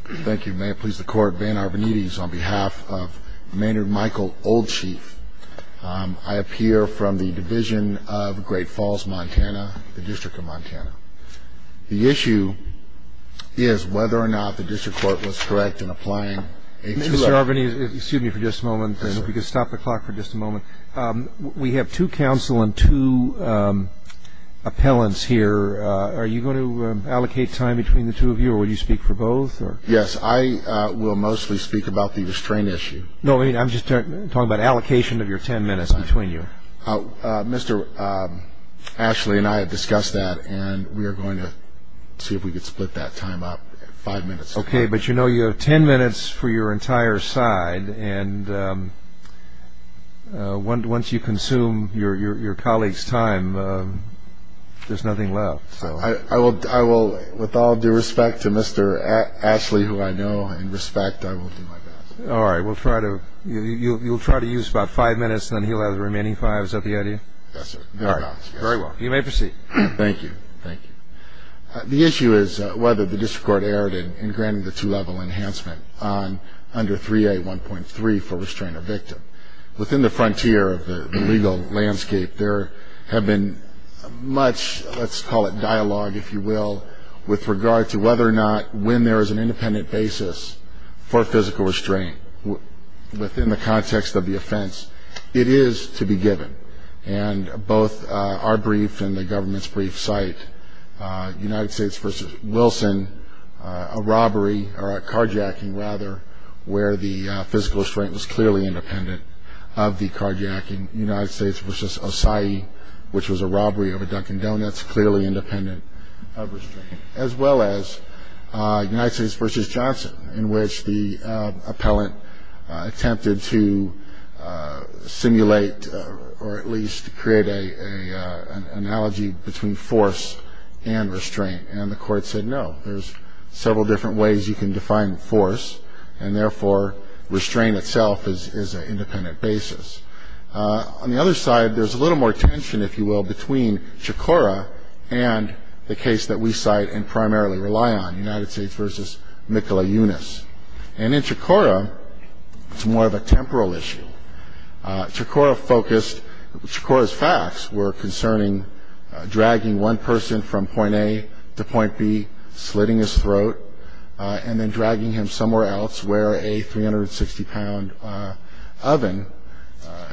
Thank you. May it please the Court, Van Arvanites, on behalf of Maynard Michael Old Chief, I appear from the Division of Great Falls, Montana, the District of Montana. The issue is whether or not the District Court was correct in applying a two hour... Mr. Arvanites, excuse me for just a moment, if you could stop the clock for just a moment. We have two counsel and two appellants here. Are you going to allocate time between the two of you, or will you speak for both? Yes, I will mostly speak about the restraint issue. No, I'm just talking about allocation of your ten minutes between you. Mr. Ashley and I have discussed that, and we are going to see if we can split that time up, five minutes. Okay, but you know you have ten minutes for your entire side, and once you consume your colleague's time, there's nothing left. With all due respect to Mr. Ashley, who I know and respect, I will do my best. All right, you'll try to use about five minutes, and then he'll have the remaining five. Is that the idea? Yes, sir. Very well. You may proceed. Thank you. The issue is whether the district court erred in granting the two-level enhancement under 3A.1.3 for restraint of victim. Within the frontier of the legal landscape, there have been much, let's call it dialogue, if you will, with regard to whether or not, when there is an independent basis for physical restraint within the context of the offense, it is to be given. Both our brief and the government's brief cite United States v. Wilson, a robbery, or a carjacking, rather, where the physical restraint was clearly independent of the carjacking. United States v. Osaie, which was a robbery of a Dunkin' Donuts, clearly independent of restraint, as well as United States v. Johnson, in which the appellant attempted to simulate or at least create an analogy between force and restraint, and the court said no. There's several different ways you can define force, and therefore, restraint itself is an independent basis. On the other side, there's a little more tension, if you will, between Chikora and the case that we cite and primarily rely on, United States v. Mikola Younis. And in Chikora, it's more of a temporal issue. Chikora focused – Chikora's facts were concerning dragging one person from point A to point B, slitting his throat, and then dragging him somewhere else where a 360-pound oven,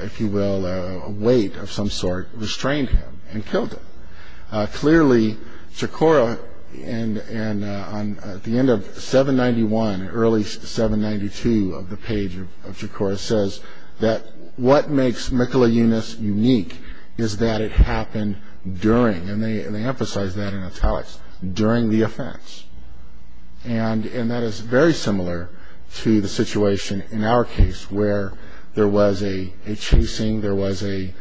if you will, a weight of some sort, restrained him and killed him. Clearly, Chikora, at the end of 791, early 792 of the page of Chikora, says that what makes Mikola Younis unique is that it happened during – And that is very similar to the situation in our case where there was a chasing, there was a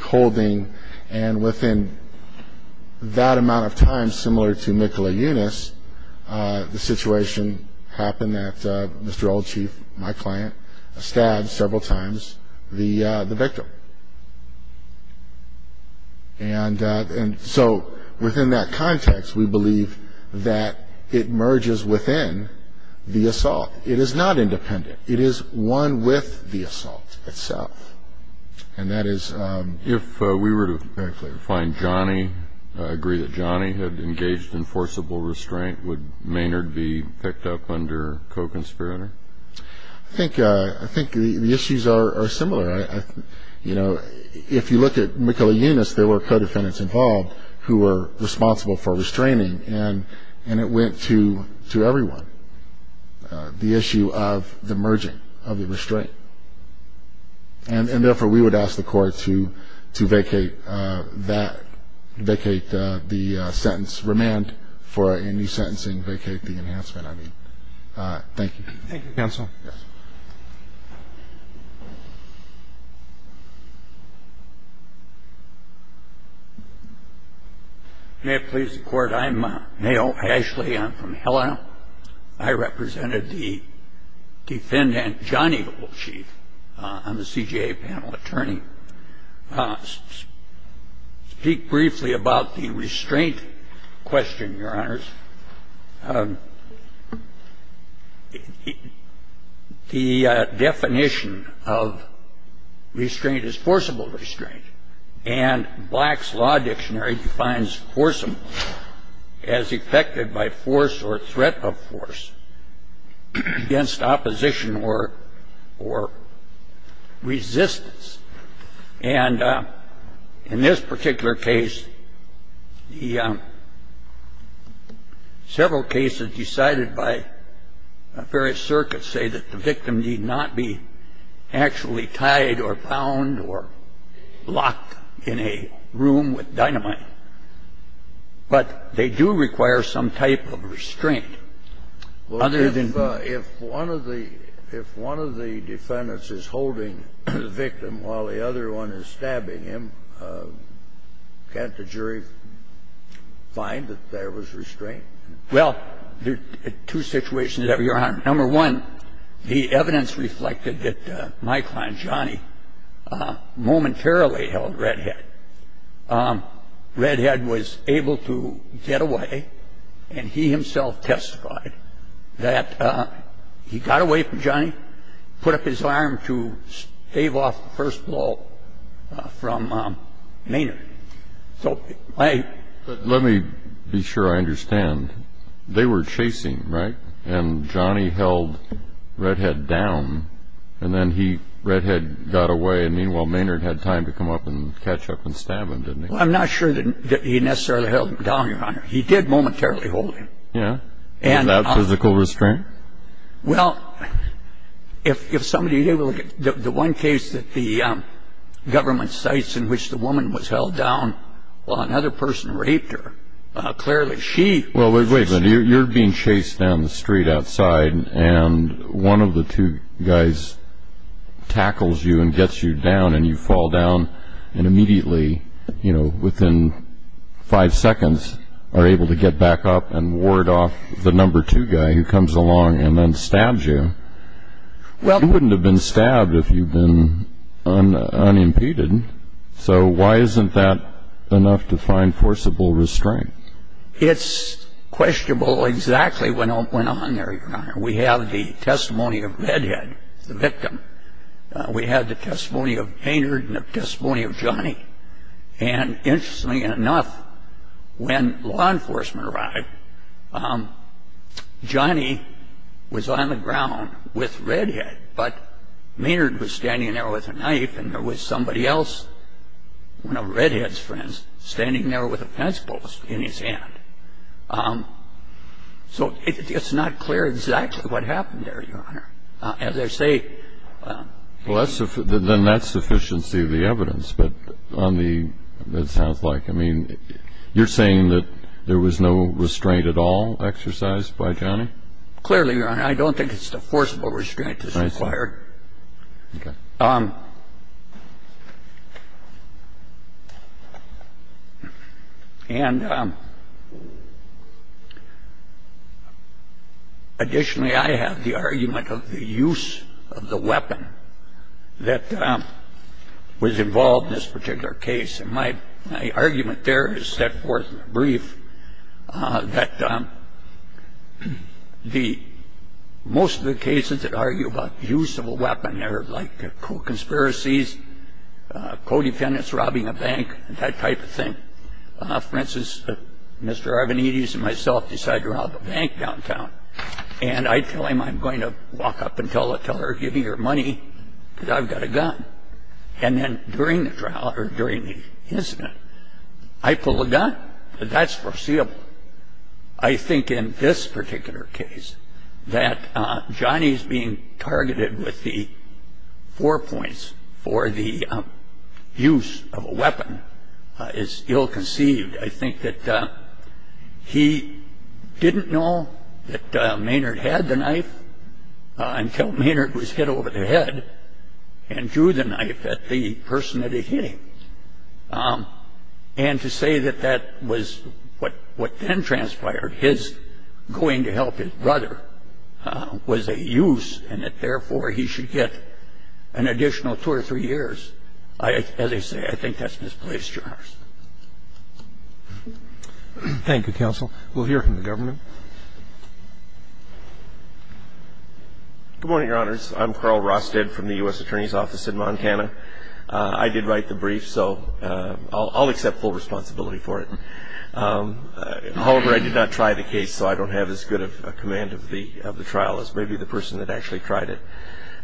holding, and within that amount of time, similar to Mikola Younis, the situation happened that Mr. Old Chief, my client, stabbed several times the victim. And so within that context, we believe that it merges within the assault. It is not independent. It is one with the assault itself, and that is – If we were to find Johnny, agree that Johnny had engaged in forcible restraint, would Maynard be picked up under co-conspirator? I think the issues are similar. You know, if you look at Mikola Younis, there were co-defendants involved who were responsible for restraining, and it went to everyone, the issue of the merging of the restraint. And therefore, we would ask the court to vacate that – vacate the sentence, remand for any sentencing, vacate the enhancement, I mean. Thank you. Thank you, counsel. Yes. May it please the court, I'm Neal Ashley. I'm from Helena. I represented the defendant, Johnny Old Chief. I'm a CJA panel attorney. The definition of restraint is forcible restraint, and Black's Law Dictionary defines forcible as effected by force or threat of force against opposition or resistance. And in this particular case, the – several cases decided by various circuits say that the victim need not be actually tied or bound or locked in a room with dynamite, but they do require some type of restraint. Well, if one of the defendants is holding the victim while the other one is stabbing him, can't the jury find that there was restraint? Well, there are two situations that we are on. Number one, the evidence reflected that my client, Johnny, momentarily held Redhead. Redhead was able to get away, and he himself testified that he got away from Johnny, put up his arm to stave off the first blow from Maynard. So my – But let me be sure I understand. They were chasing, right? And Johnny held Redhead down, and then he – Redhead got away, and meanwhile Maynard had time to come up and catch up and stab him, didn't he? Well, I'm not sure that he necessarily held him down, Your Honor. He did momentarily hold him. Yeah? Without physical restraint? Well, if somebody – the one case that the government cites in which the woman was held down while another person raped her, clearly she – Well, wait a minute. You're being chased down the street outside, and one of the two guys tackles you and gets you down, and you fall down, and immediately, you know, within five seconds, are able to get back up and ward off the number two guy who comes along and then stabs you. Well – You wouldn't have been stabbed if you'd been unimpeded. So why isn't that enough to find forcible restraint? It's questionable exactly what went on there, Your Honor. We have the testimony of Redhead, the victim. We have the testimony of Maynard and the testimony of Johnny. And interestingly enough, when law enforcement arrived, Johnny was on the ground with Redhead, but Maynard was standing there with a knife, and there was somebody else, one of Redhead's friends, standing there with a fence post in his hand. So it's not clear exactly what happened there, Your Honor. As I say – Well, then that's sufficiency of the evidence, but on the – it sounds like – I mean, you're saying that there was no restraint at all exercised by Johnny? Clearly, Your Honor. I'm saying that there was no restraint exercised by Johnny. Okay. And additionally, I have the argument of the use of the weapon that was involved in this particular case. And my argument there is set forth in the brief that most of the cases that argue about the use of a weapon, they're like conspiracies, co-defendants robbing a bank, that type of thing. For instance, Mr. Arvanites and myself decide to rob a bank downtown, and I tell him I'm going to walk up and tell her, give me your money because I've got a gun. And then during the incident, I pull the gun. That's foreseeable. I think in this particular case that Johnny's being targeted with the four points for the use of a weapon is ill-conceived. I think that he didn't know that Maynard had the knife until Maynard was hit over the head and drew the knife at the person that he hit him. And to say that that was what then transpired, his going to help his brother, was a use and that therefore he should get an additional two or three years, as I say, I think that's misplaced, Your Honor. Thank you, counsel. We'll hear from the government. Good morning, Your Honors. I'm Carl Rosted from the U.S. Attorney's Office in Montana. I did write the brief, so I'll accept full responsibility for it. However, I did not try the case, so I don't have as good a command of the trial as maybe the person that actually tried it.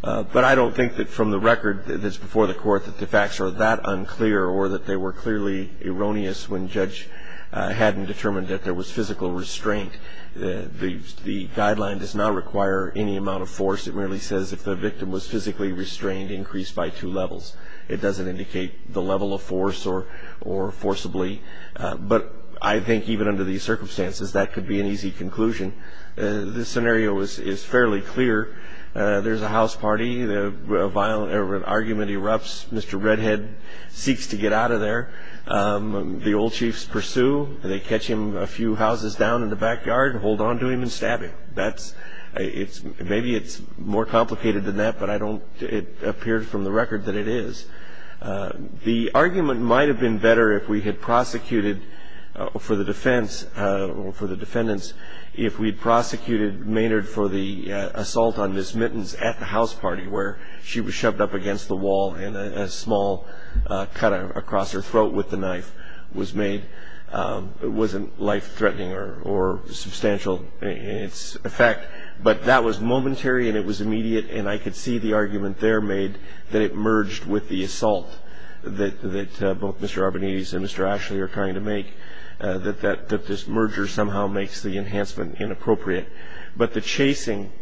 But I don't think that from the record that's before the Court that the facts are that unclear or that they were clearly erroneous when Judge Haddon determined that there was physical restraint. The guideline does not require any amount of force. It merely says if the victim was physically restrained, increase by two levels. It doesn't indicate the level of force or forcibly. But I think even under these circumstances, that could be an easy conclusion. This scenario is fairly clear. There's a house party. A violent argument erupts. Mr. Redhead seeks to get out of there. The old chiefs pursue. They catch him a few houses down in the backyard and hold on to him and stab him. Maybe it's more complicated than that, but it appears from the record that it is. The argument might have been better if we had prosecuted for the defense, for the defendants, if we had prosecuted Maynard for the assault on Ms. Mittens at the house party where she was shoved up against the wall and a small cut across her throat with the knife was made. It wasn't life-threatening or substantial in its effect, but that was momentary and it was immediate, and I could see the argument there made that it merged with the assault that both Mr. Arbonides and Mr. Ashley are trying to make, that this merger somehow makes the enhancement inappropriate. But the chasing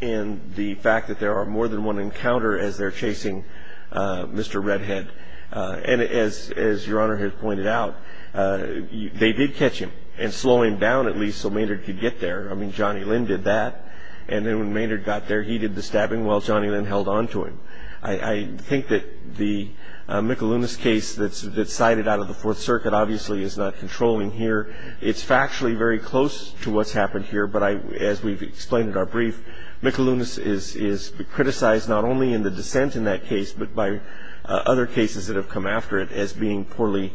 and the fact that there are more than one encounter as they're chasing Mr. Redhead, and as Your Honor has pointed out, they did catch him and slow him down at least so Maynard could get there. I mean, Johnny Lynn did that, and then when Maynard got there, he did the stabbing while Johnny Lynn held on to him. I think that the Michelunas case that's cited out of the Fourth Circuit obviously is not controlling here. It's factually very close to what's happened here, but as we've explained in our brief, Michelunas is criticized not only in the dissent in that case, but by other cases that have come after it as being poorly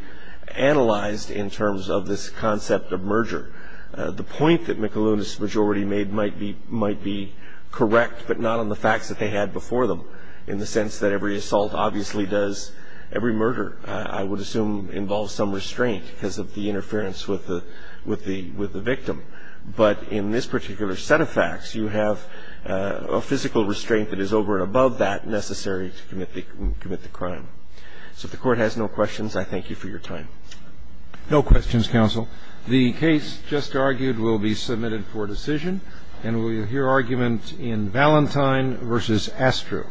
analyzed in terms of this concept of merger. The point that Michelunas' majority made might be correct, but not on the facts that they had before them, in the sense that every assault obviously does every murder, I would assume involves some restraint because of the interference with the victim. But in this particular set of facts, you have a physical restraint that is over and above that necessary to commit the crime. So if the Court has no questions, I thank you for your time. No questions, counsel. The case just argued will be submitted for decision, and we'll hear argument in Valentine v. Astro.